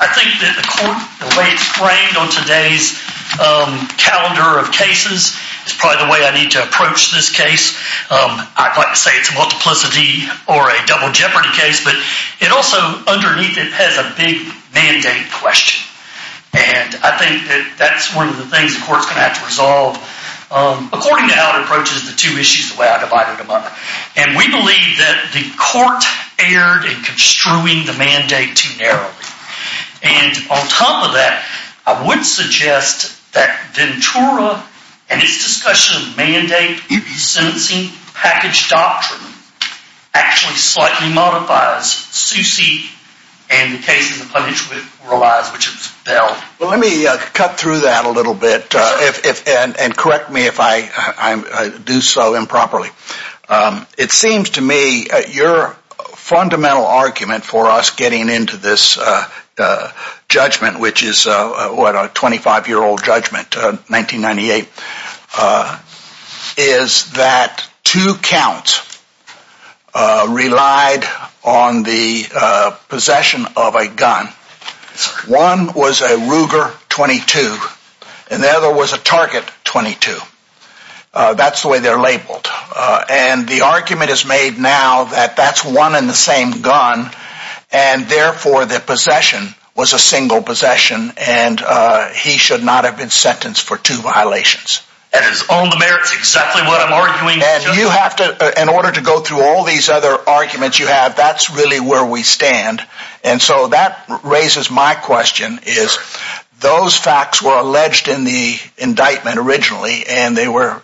I think that the way it's framed on today's calendar of cases is probably the way I need to approach this case. I'd like to say it's a multiplicity or a double jeopardy case, but it also, underneath it, has a big mandate question. And I think that that's one of the things the court's going to have to resolve according to how it approaches the two issues the way I divided them up. And we believe that the court erred in construing the mandate too narrowly. And on top of that, I would suggest that Ventura and its discussion of mandate sentencing package doctrine actually slightly modifies Suse and the case in the Pledge of Reliance, which is Bell. Well, let me cut through that a little bit and correct me if I do so improperly. It seems to me your fundamental argument for us getting into this judgment, which is a 25-year-old judgment, 1998, is that two counts relied on the possession of a gun. One was a Ruger .22, and the other was a Target .22. That's the way they're labeled. And the argument is made now that that's one and the same gun, and therefore the possession was a single possession, and he should not have been sentenced for two violations. And it's on the merits exactly what I'm arguing. And you have to, in order to go through all these other arguments you have, that's really where we stand. And so that raises my question, is those facts were alleged in the indictment originally, and they were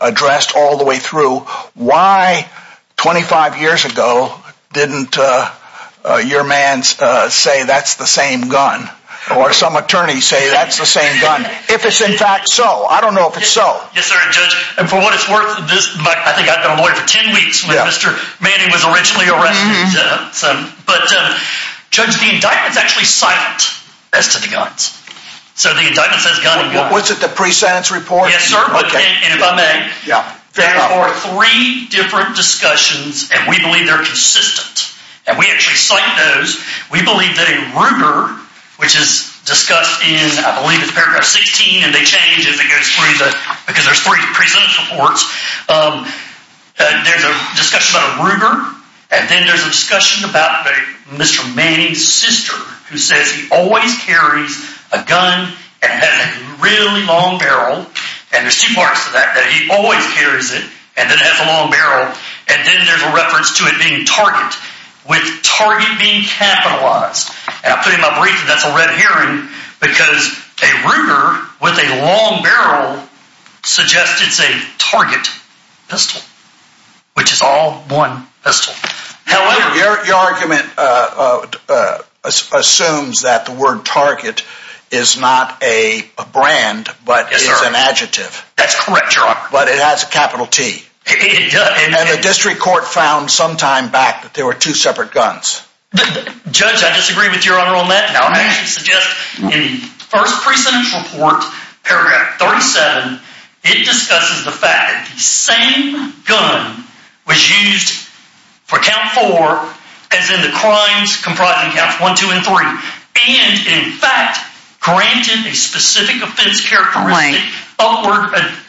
addressed all the way through. Why, 25 years ago, didn't your mans say that's the same gun, or some attorneys say that's the same gun, if it's in fact so? I don't know if it's so. Yes, sir, Judge. And for what it's worth, I think I've been a lawyer for 10 weeks when Mr. Manning was originally arrested. But, Judge, the indictment's actually silent as to the guns. So the indictment says gun and gun. Was it the pre-sentence report? Yes, sir. And if I may, there were three different discussions, and we believe they're consistent. And we actually cite those. We believe that in Ruger, which is discussed in, I believe it's paragraph 16, and they change as it goes through because there's three pre-sentence reports. There's a discussion about a Ruger, and then there's a discussion about Mr. Manning's sister, who says he always carries a gun and has a really long barrel. And there's two parts to that, that he always carries it and then has a long barrel. And then there's a reference to it being Target, with Target being capitalized. And I put in my with a long barrel, suggest it's a Target pistol, which is all one pistol. Your argument assumes that the word Target is not a brand, but it's an adjective. That's correct, Your Honor. But it has a capital T. It does. And the district court found some time back that there were two separate guns. Judge, I disagree with Your Honor on that. Now, in the first pre-sentence report, paragraph 37, it discusses the fact that the same gun was used for count four as in the crimes comprising counts one, two, and three. And in fact, granted a specific offense characteristic.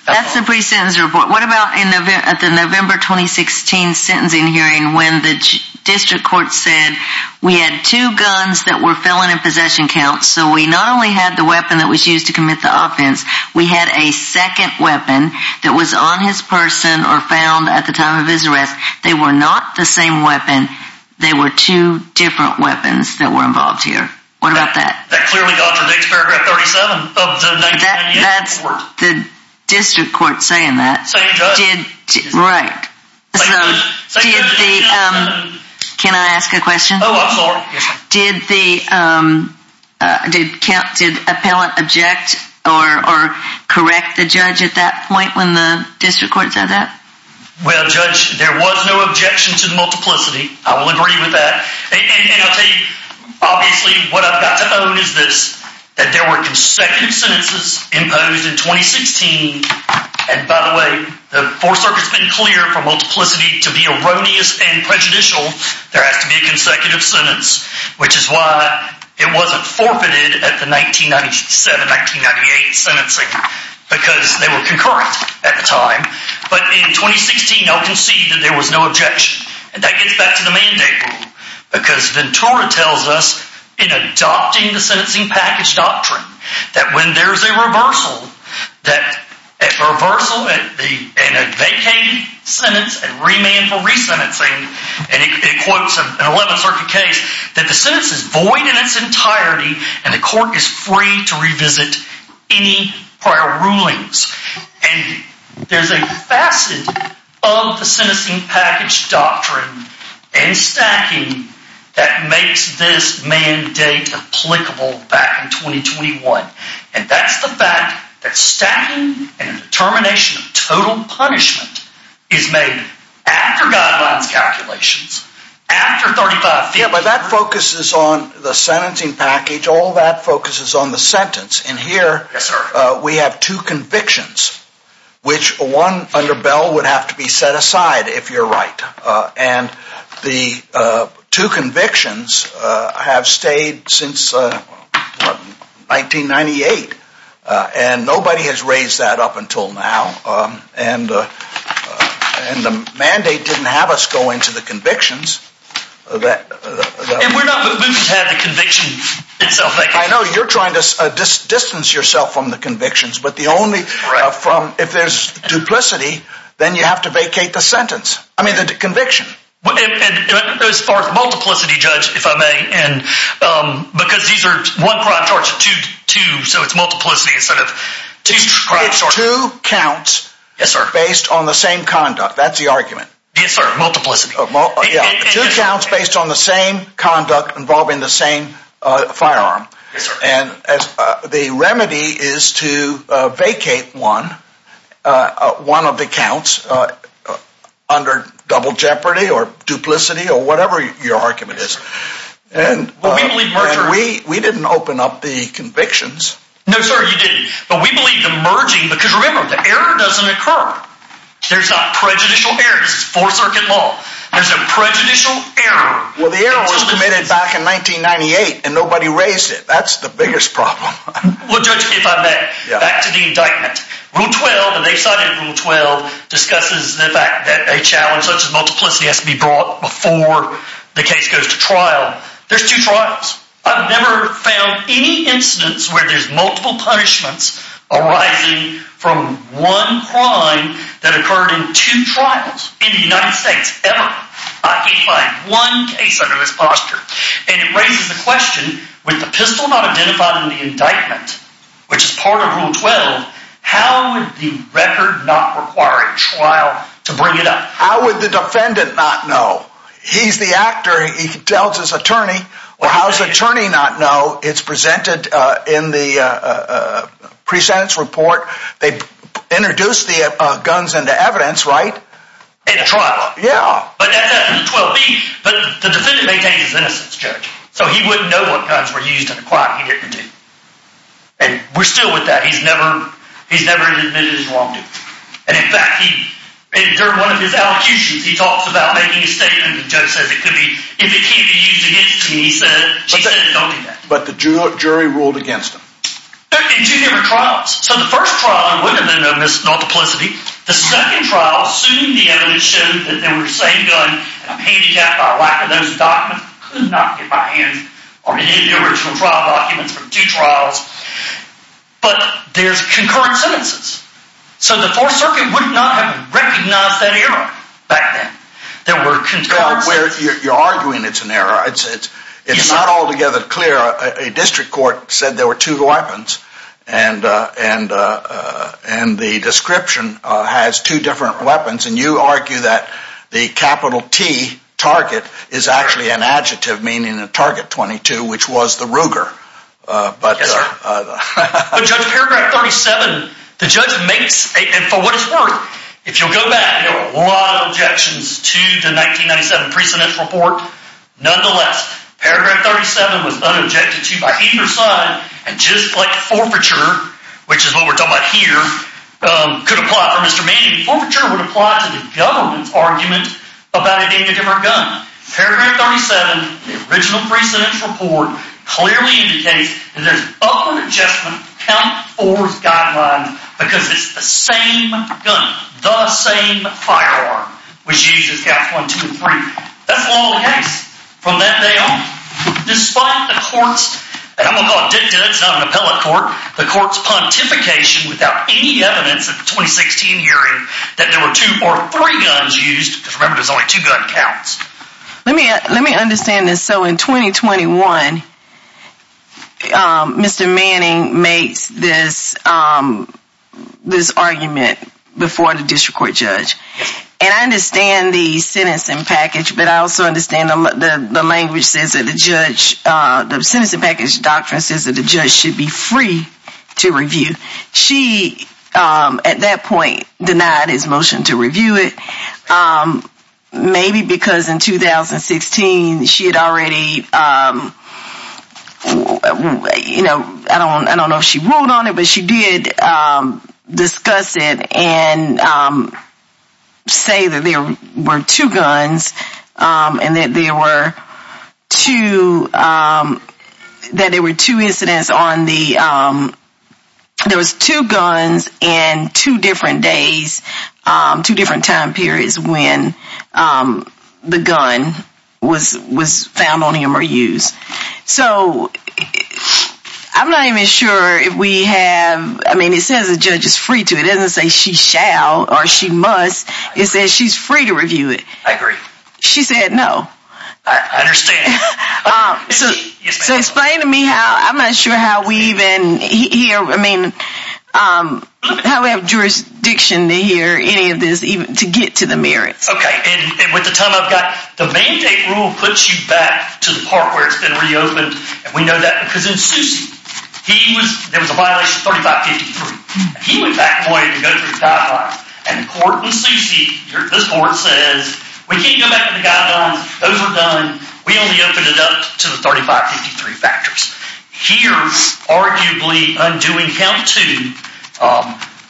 That's the pre-sentence report. What about at the November 2016 sentencing hearing when the district court said we had two guns that were felon in possession counts. So we not only had the weapon that was used to commit the offense, we had a second weapon that was on his person or found at the time of his arrest. They were not the same weapon. They were two different weapons that were involved here. What about that? That clearly contradicts paragraph 37 of the 1998 report. That's the district court saying that. Same judge. Right. Can I ask a question? Oh, I'm sorry. Did appellant object or correct the judge at that point when the district court said that? Well, Judge, there was no objection to multiplicity. I will agree with that. And I'll tell you, obviously, what I've got to own is this, that there were consecutive sentences imposed in 2016. And by the way, the Fourth Circuit's been clear for multiplicity to be erroneous and prejudicial. There has to be a consecutive sentence, which is why it wasn't forfeited at the 1997-1998 sentencing, because they were concurrent at the time. But in 2016, I'll concede that there was no objection. And that gets back to the mandate rule, because Ventura tells us in adopting the sentencing package doctrine, that when there's a reversal, a vacated sentence and remand for resentencing, and it quotes an 11th Circuit case, that the sentence is void in its entirety and the court is free to revisit any prior rulings. And there's a facet of the sentencing package doctrine and stacking that makes this mandate applicable back in 2021. And that's the fact that stacking and termination of total punishment is made after guidelines calculations, after 35 feet. Yeah, but that focuses on the sentencing package. All that focuses on the sentence. And here, we have two convictions, which one under Bell would have to be set aside, if you're right. And the two convictions have stayed since 1998. And nobody has raised that up until now. And the mandate didn't have us go into the convictions. And we're not moving to have the conviction itself. I know you're trying to distance yourself from the convictions, but if there's duplicity, then you have to vacate the sentence. I mean, the conviction. As far as multiplicity, Judge, if I may, and because these are one crime charge to two, so it's multiplicity instead of two crime charges. Two counts. Yes, sir. Based on the same conduct. That's the argument. Yes, sir. Multiplicity. Two counts based on the same conduct involving the same firearm. And the remedy is to vacate one, one of the counts under double jeopardy or duplicity or whatever your argument is. And we didn't open up the convictions. No, sir, you didn't. But we believe the merging, because remember, the error doesn't occur. There's not prejudicial errors. It's four circuit law. There's a prejudicial error. Well, the error was committed back in 1998 and nobody raised it. That's the biggest problem. Well, Judge, if I may, back to the indictment. Rule 12, and they've cited Rule 12, discusses the fact that a challenge such as multiplicity has to be brought before the case goes to trial. There's two trials. I've never found any incidents where there's multiple punishments arising from one crime that occurred in two trials in the United States ever. I can't find one case under this posture. And it raises the question, with the pistol not identified in the indictment, which is part of Rule 12, how would the record not require a trial to bring it up? How would the defendant not know? He's the actor. He tells his attorney. Well, how does the attorney not know? It's presented in the pre-sentence report. They introduced the guns into evidence, right? In the trial. Yeah. But the defendant maintains his innocence, Judge. So he wouldn't know what guns were used in a crime he didn't do. And we're still with that. He's never admitted his wrongdoing. And in fact, during one of his allocutions, he talks about making a statement. The judge says, it could be, if it can't be used against me, he said, don't do that. But the jury ruled against him. In two different trials. So the first trial would have been a mis-multiplicity. The second trial, soon the evidence showed that there were the same gun, and I'm handicapped by lack of those documents. I could not get my hands on any of the original trial documents from two trials. But there's concurrent sentences. So the Fourth Circuit would not have recognized that error back then. There were concurrent sentences. You're arguing it's an error. It's not altogether clear. A district court said there were two weapons. And the description has two different weapons. And you argue that the capital T, Target, is actually an adjective, meaning a Target 22, which was the Ruger. Yes, sir. But Judge, paragraph 37, the judge makes, and for what it's worth, if you'll go back, there were a lot of objections to the 1997 precedence report. Nonetheless, paragraph 37 was unobjected to by either side. And just like forfeiture, which is what we're talking about here, could apply for Mr. Manning, forfeiture would apply to the government's argument about it being a different gun. Paragraph 37, the original precedence report, clearly indicates that there's other adjustment count forth guidelines because it's the same gun, the same firearm, which uses counts one, two, and three. That's the law of the case. From that day on, despite the court's, and I'm going to call it dicta, it's not an appellate court, the court's pontification without any evidence at the 2016 hearing that there were two or three guns used, because remember there's only two gun counts. Let me understand this. So in 2021, Mr. Manning makes this argument before the district court and I understand the sentencing package, but I also understand the language says that the judge, the sentencing package doctrine says that the judge should be free to review. She, at that point, denied his motion to review it, maybe because in 2016 she had already, you know, I don't know if she ruled on it, but she did discuss it and say that there were two guns and that there were two, that there were two incidents on the, there was two guns and two different days, two different time periods when the gun was found on him or used. So I'm not even sure if we have, I mean, it says the judge is free to, it doesn't say she shall or she must, it says she's free to review it. I agree. She said no. I understand. So explain to me how, I'm not sure how we even hear, I mean, how we have jurisdiction to hear any of this, even to get to the merits. Okay. And with the time I've got, the mandate rule puts you back to the part where it's been reopened. And we know that because in Sousey, he was, there was a violation of 3553. He went back and wanted to go through the guidelines. And the court in Sousey, this court says, we can't go back to the guidelines. Those were done. We only opened it up to the 3553 factors. Here's arguably undoing count two,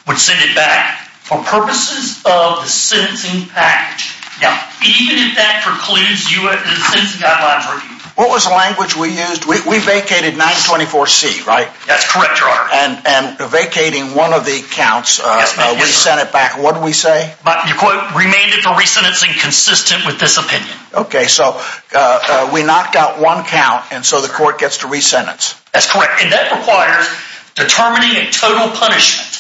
would send it back for purposes of the sentencing package. Now, even if that precludes the sentencing guidelines review. What was the language we used? We vacated 924C, right? That's correct, Your Honor. And vacating one of the counts, we sent it back. What did we say? You quote, remained it for re-sentencing consistent with this opinion. Okay. So we knocked out one count and so the court gets to re-sentence. That's correct. And that requires determining a total punishment.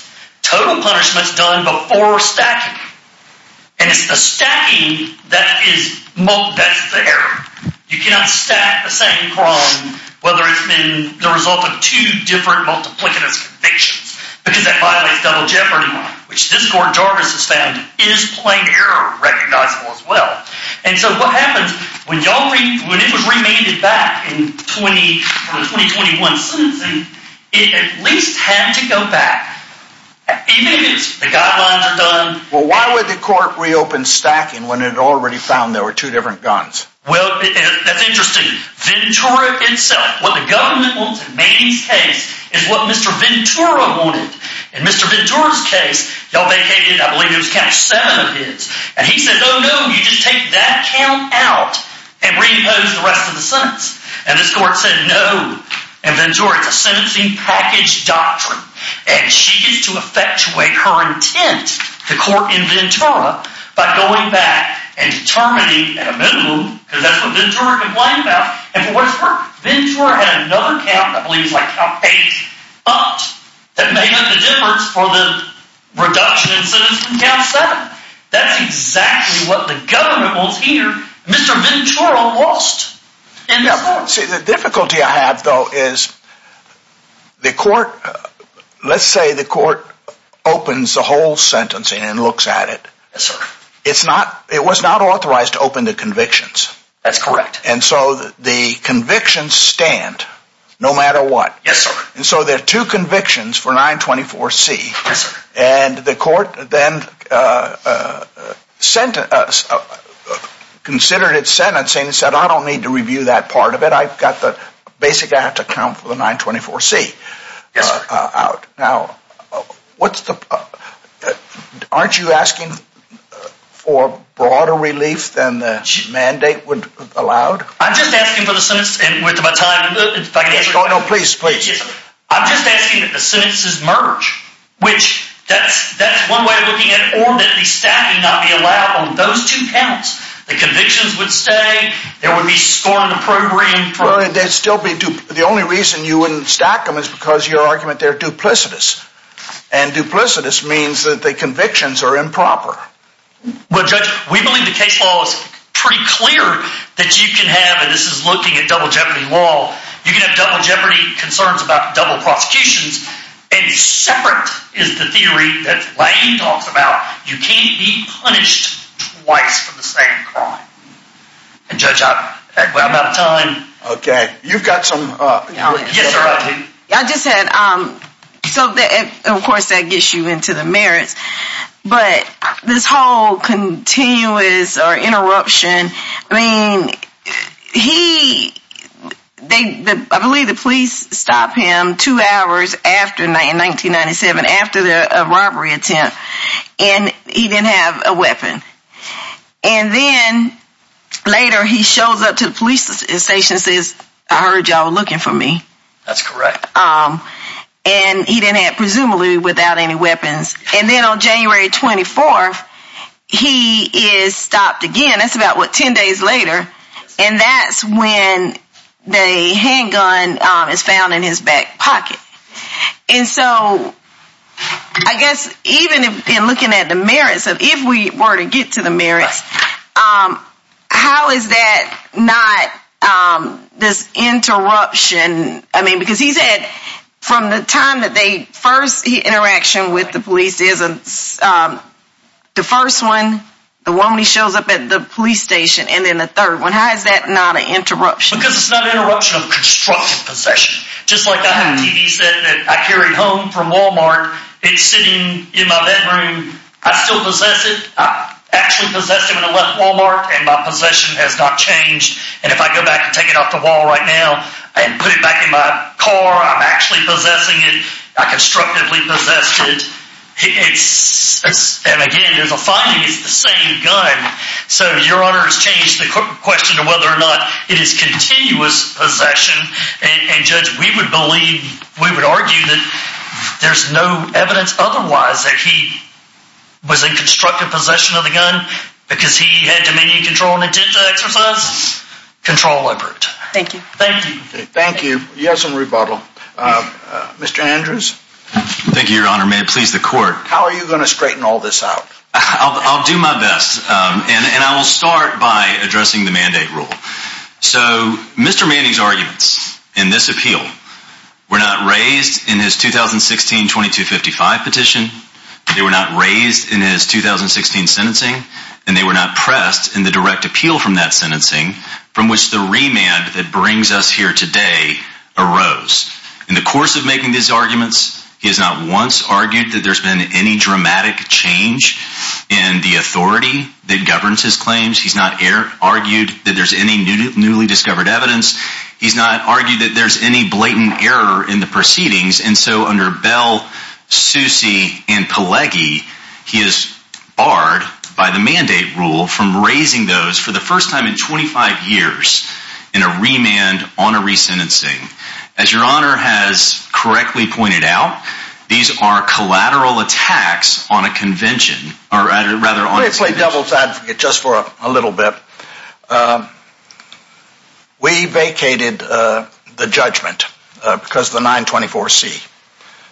Total punishment's done before stacking. And it's the stacking that's there. You cannot stack the same crime, whether it's been the result of two different multiplicitous convictions, because that violates double jeopardy law, which this court has found is plain error recognizable as well. And so what happens when it was remanded back in the 2021 sentencing, it at least had to go back. Even if it is, the guidelines are done. Well, why would the court reopen stacking when it already found there were two different guns? Well, that's interesting. Ventura itself, what the government wants in Maney's case is what Mr. Ventura wanted. In Mr. Ventura's case, y'all vacated, I believe it was count seven of his. And he said, no, no, you just take that count out and reimpose the rest of the sentence. And this court said, no. And Ventura, it's a sentencing package doctrine. And she gets to effectuate her intent, the court in Ventura, by going back and determining at a minimum, because that's what Ventura complained about. And for what it's worth, Ventura had another count, I believe it's like count eight, but that made up the difference for the reduction in sentence from count seven. That's exactly what the government wants here. Mr. Ventura lost. See, the difficulty I have though is the court, let's say the court opens the whole sentencing and looks at it. It's not, it was not authorized to open the convictions. That's correct. And so the convictions stand no matter what. Yes, sir. And so there are two considered at sentencing and said, I don't need to review that part of it. I've got the basic, I have to count for the 924C. Yes, sir. Now, what's the, aren't you asking for broader relief than the mandate would allow? I'm just asking for the sentence and with my time. No, no, please, please. I'm just asking that the sentences merge, which that's, that's one way of looking at it, not be allowed on those two counts. The convictions would stay. There would be scoring the program. Well, and they'd still be, the only reason you wouldn't stack them is because your argument they're duplicitous and duplicitous means that the convictions are improper. Well, judge, we believe the case law is pretty clear that you can have, and this is looking at double jeopardy law. You can have double jeopardy concerns about double prosecutions and separate is the theory that Lane talks about. You can't be punished twice for the same crime. And judge, I'm out of time. Okay. You've got some. Yes, sir. I do. I just had, so of course that gets you into the merits, but this whole continuous or interruption, I mean, he, they, I believe the police stopped him two hours after, in 1997, after the robbery attempt and he didn't have a weapon. And then later he shows up to the police station and says, I heard y'all looking for me. That's correct. And he didn't have, presumably without any weapons. And then on January 24th, he is stopped again. That's about what, 10 days later. And that's when the handgun is found in his back pocket. And so I guess even in looking at the merits of, if we were to get to the merits, how is that not this interruption? I mean, because he said from the time that they first interaction with the police is the first one, the woman, he shows up at the police station. And then the third one, how is that not an interruption? Because it's not an interruption of constructive possession. Just like I have TVs that I carry home from Walmart, it's sitting in my bedroom. I still possess it. I actually possessed it when I left Walmart and my possession has not changed. And if I go back and take it off the wall right now and put it back in my car, I'm actually possessing it. I constructively possessed it. It's, and again, there's a finding it's the same gun. So your honor has changed the question to whether or not it is continuous possession. And judge, we would believe, we would argue that there's no evidence otherwise that he was in constructive possession of the gun because he had dominion control and intent to exercise control over it. Thank you. Thank you. Thank you. Yes. And rebuttal. Mr. Andrews. Thank you, your honor. May it please the court. How are you going to straighten all this out? I'll do my best. And I will start by addressing the mandate rule. So Mr. Manning's arguments in this appeal were not raised in his 2016 2255 petition. They were not raised in his 2016 sentencing and they were not pressed in the direct appeal from that sentencing from which the remand that brings us here today arose in the course of making these arguments. He has not argued that there's been any dramatic change in the authority that governs his claims. He's not argued that there's any newly discovered evidence. He's not argued that there's any blatant error in the proceedings. And so under Bell, Soucy, and Pelegi, he is barred by the mandate rule from raising those for the first time in 25 years in a remand on a resentencing. As your honor has correctly pointed out, these are collateral attacks on a convention, or rather, on a... Let me play devil's advocate just for a little bit. We vacated the judgment because of the 924C.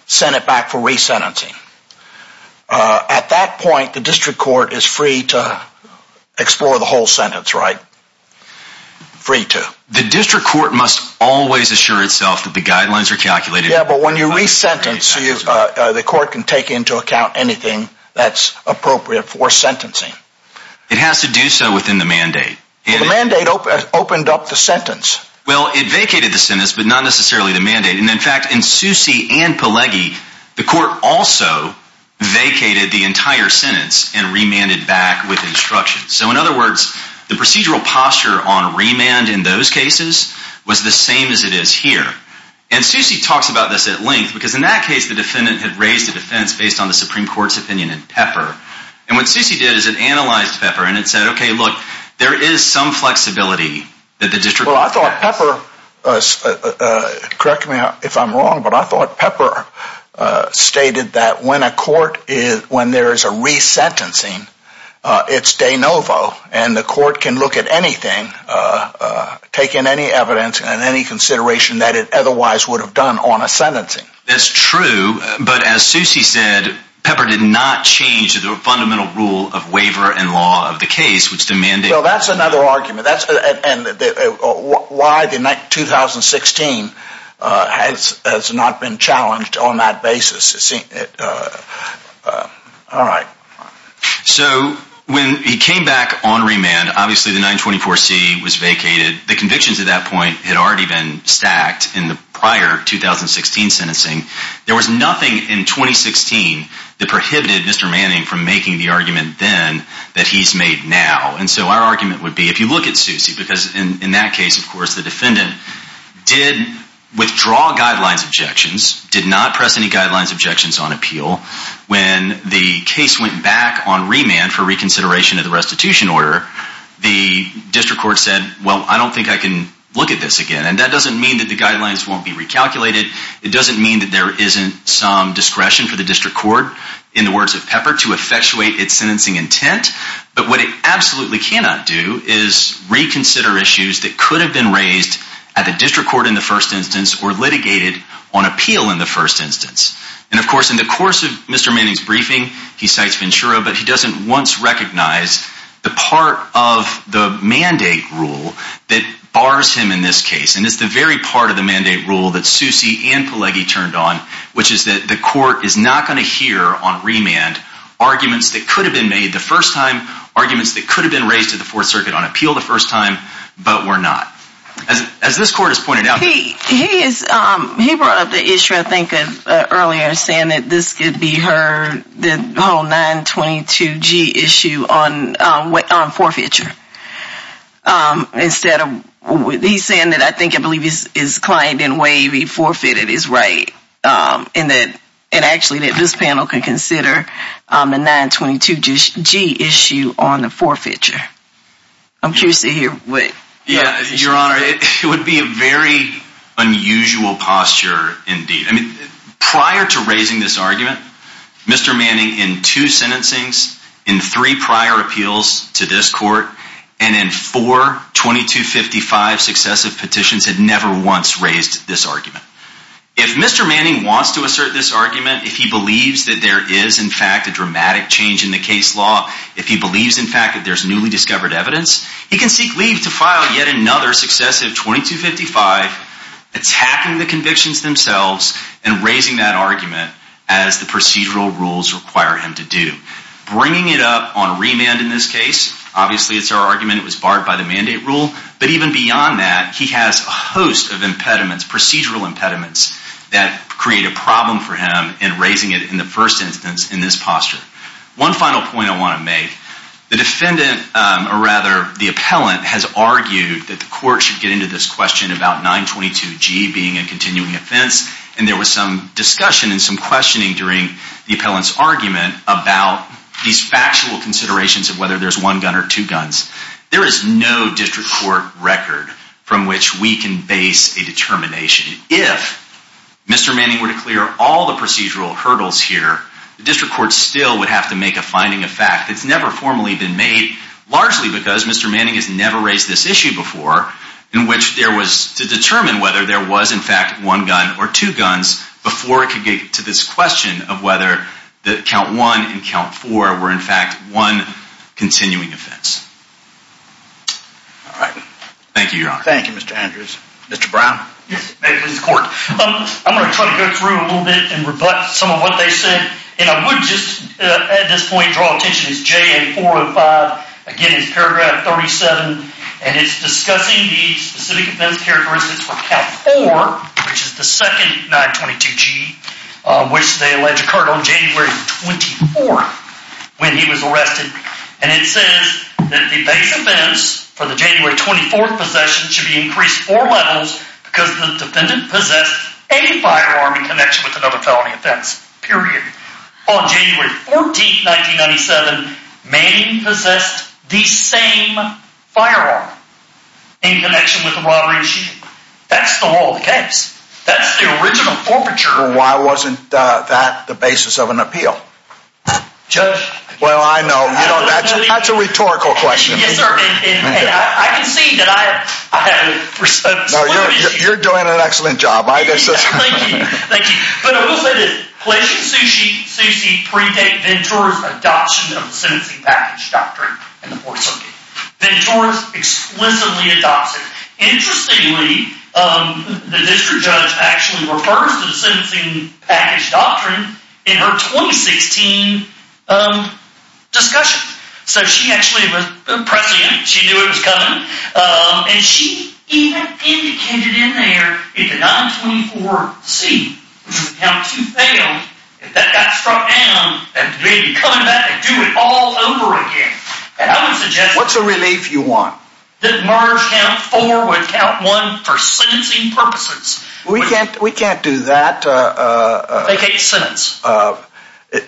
Sent it back for resentencing. At that point, the district court is free to explore the whole sentence, right? Free to. The district court must always assure itself that the guidelines are calculated. Yeah, but when you resentence, the court can take into account anything that's appropriate for sentencing. It has to do so within the mandate. The mandate opened up the sentence. Well, it vacated the sentence, but not necessarily the mandate. And in fact, in Soucy and Pelegi, the court also vacated the entire sentence and remanded back with instruction. So in other words, the procedural posture on remand in those cases was the same as it is here. And Soucy talks about this at length because in that case, the defendant had raised a defense based on the Supreme Court's opinion in Pepper. And what Soucy did is it analyzed Pepper and it said, okay, look, there is some flexibility that the district... Well, I thought Pepper, correct me if I'm wrong, but I thought Pepper stated that when a court is, when there is a resentencing, it's de novo and the court can look at anything, take in any evidence and any consideration that it otherwise would have done on a sentencing. That's true. But as Soucy said, Pepper did not change the fundamental rule of waiver and law of the case, which the mandate... Well, that's another argument. That's when he came back on remand, obviously the 924C was vacated. The convictions at that point had already been stacked in the prior 2016 sentencing. There was nothing in 2016 that prohibited Mr. Manning from making the argument then that he's made now. And so our argument would be, if you look at Soucy, because in that case, of course, the defendant did withdraw guidelines objections, did not press any guidelines objections on appeal. When the case went back on remand for reconsideration of the restitution order, the district court said, well, I don't think I can look at this again. And that doesn't mean that the guidelines won't be recalculated. It doesn't mean that there isn't some discretion for the district court in the words of Pepper to effectuate its sentencing intent. But what it absolutely cannot do is reconsider issues that litigated on appeal in the first instance. And of course, in the course of Mr. Manning's briefing, he cites Ventura, but he doesn't once recognize the part of the mandate rule that bars him in this case. And it's the very part of the mandate rule that Soucy and Pelleggi turned on, which is that the court is not going to hear on remand arguments that could have been made the first time, arguments that could have been raised to the fourth circuit on appeal the first time, but were not. As this court has pointed out... He brought up the issue, I think, earlier saying that this could be heard, the whole 922G issue on forfeiture. Instead of, he's saying that I think I believe his client in Wavy forfeited his right, and actually that this panel can consider a 922G issue on the forfeiture. I'm curious to hear what... Yeah, Your Honor, it would be a very unusual posture indeed. I mean, prior to raising this argument, Mr. Manning in two sentencings, in three prior appeals to this court, and in four 2255 successive petitions had never once raised this argument. If Mr. Manning wants to assert this argument, if he believes that there is in fact a dramatic change in the case law, if he believes in fact that there's newly discovered evidence, he can seek leave to file yet another successive 2255 attacking the convictions themselves and raising that argument as the procedural rules require him to do. Bringing it up on remand in this case, obviously it's our argument, it was barred by the mandate rule, but even beyond that, he has a host of impediments, procedural impediments that create a problem for him in raising it in the first instance in this posture. One final point I want to make, the defendant, or rather the appellant, has argued that the court should get into this question about 922G being a continuing offense, and there was some discussion and some questioning during the appellant's argument about these factual considerations of whether there's one gun or two guns. There is no district court record from which we can base a determination. If Mr. Manning were to clear all the procedural hurdles here, the district court still would have to make a finding of fact that's never formally been made, largely because Mr. Manning has never raised this issue before in which there was to determine whether there was in fact one gun or two guns before it could get to this question of whether count one and count four were in fact one continuing offense. All right, thank you, Your Honor. Thank you, Mr. Andrews. Mr. Brown? Yes, may it please the court. I'm going to try to go through a little bit and rebut some of what they said, and I would just at this point draw attention as JA 405 again is paragraph 37, and it's discussing the specific offense characteristics for count four, which is the base offense for the January 24th possession should be increased four levels because the defendant possessed a firearm in connection with another felony offense, period. On January 14, 1997, Manning possessed the same firearm in connection with the robbery and shooting. That's the whole case. That's the original forfeiture. Why wasn't that the basis of an appeal? Judge? Well, I know, you know, that's a rhetorical question. Yes, sir, and I can see that I have respect. No, you're doing an excellent job. Thank you, thank you, but I will say this. Pleasant Susie predate Ventura's adoption of the sentencing package doctrine in the fourth circuit. Ventura's explicitly adopted. Interestingly, the district judge actually refers to the sentencing package doctrine in her 2016 discussion, so she actually was pressing it. She knew it was coming, and she even indicated in there if the 924-C, which is count two failed, if that got struck down, that they'd be coming back and do it all over again, and I would suggest... What's a relief you want? That Marge count four would count one for sentencing purposes. We can't, we can't do that. Vacate sentence.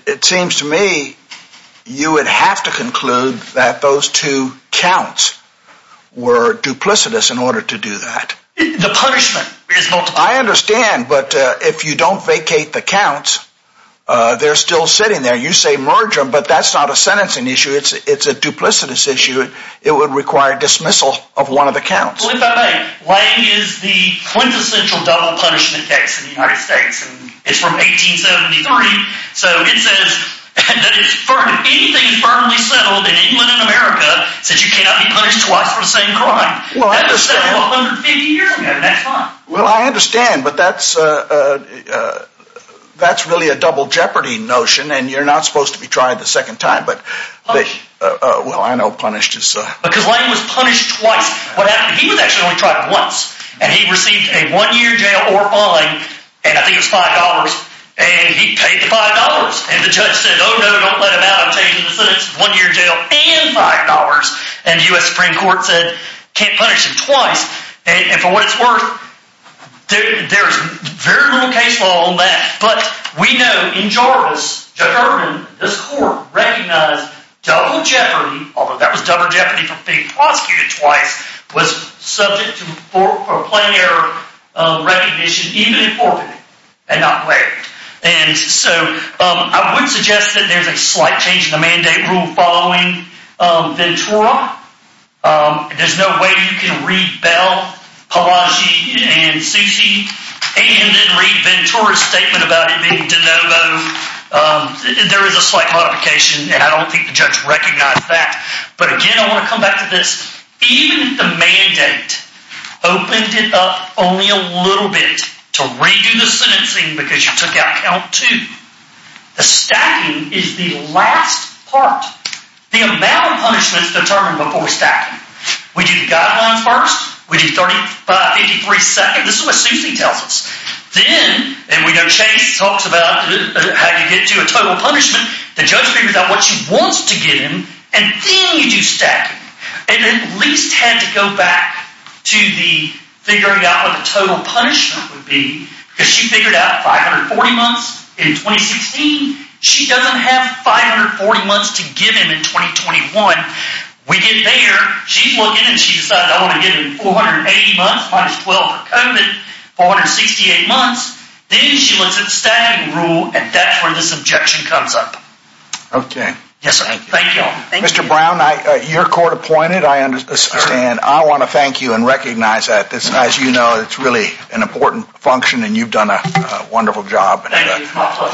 It seems to me you would have to conclude that those two counts were duplicitous in order to do that. The punishment is multiple. I understand, but if you don't vacate the counts, they're still sitting there. You say merge them, but that's not a sentencing issue. It's a duplicitous issue. It would require dismissal of one of the counts. If I may, Lange is the quintessential double punishment case in the United States, and it's from 1873, so it says that anything firmly settled in England and America says you cannot be punished twice for the same crime. Well, I understand, but that's really a double jeopardy notion, and you're not supposed to be trying the second time, but... Because Lange was punished twice. He was actually only tried once, and he received a one-year jail or fine, and I think it was $5, and he paid the $5, and the judge said, oh, no, don't let him out. I'm changing the sentence. One-year jail and $5, and the U.S. Supreme Court said can't punish him twice, and for what it's worth, there's very little case law on that, but we know in Jarvis, this court recognized double jeopardy, although that was double jeopardy for being prosecuted twice, was subject to plain error recognition, even in forfeited, and not waived, and so I would suggest that there's a slight change in the mandate rule following Ventura. There's no way you can read Bell, Palazzi, and Susi, and then read Ventura's statement about it being de novo. There is a slight modification, and I don't think the judge recognized that, but again, I want to come back to this. Even the mandate opened it up only a little bit to redo the sentencing because you took out count two. The stacking is the last part. The amount of punishment is determined before stacking. We do the guidelines first. We do 35, 53 seconds. This is what Susi tells us. Then, and we know Chase talks about how you get to a total punishment. The judge figures out what she wants to give him, and then you do stacking. It at least had to go back to the figuring out what the total punishment would be because she wants to give him in 2021. We get there. She's looking, and she decides I want to give him 480 months minus 12 for COVID, 468 months. Then she looks at the stacking rule, and that's where this objection comes up. Okay. Yes, sir. Thank you. Mr. Brown, you're court appointed. I understand. I want to thank you and recognize that. As you know, it's really an important function, and you've done a wonderful job. Thank you. It's my pleasure.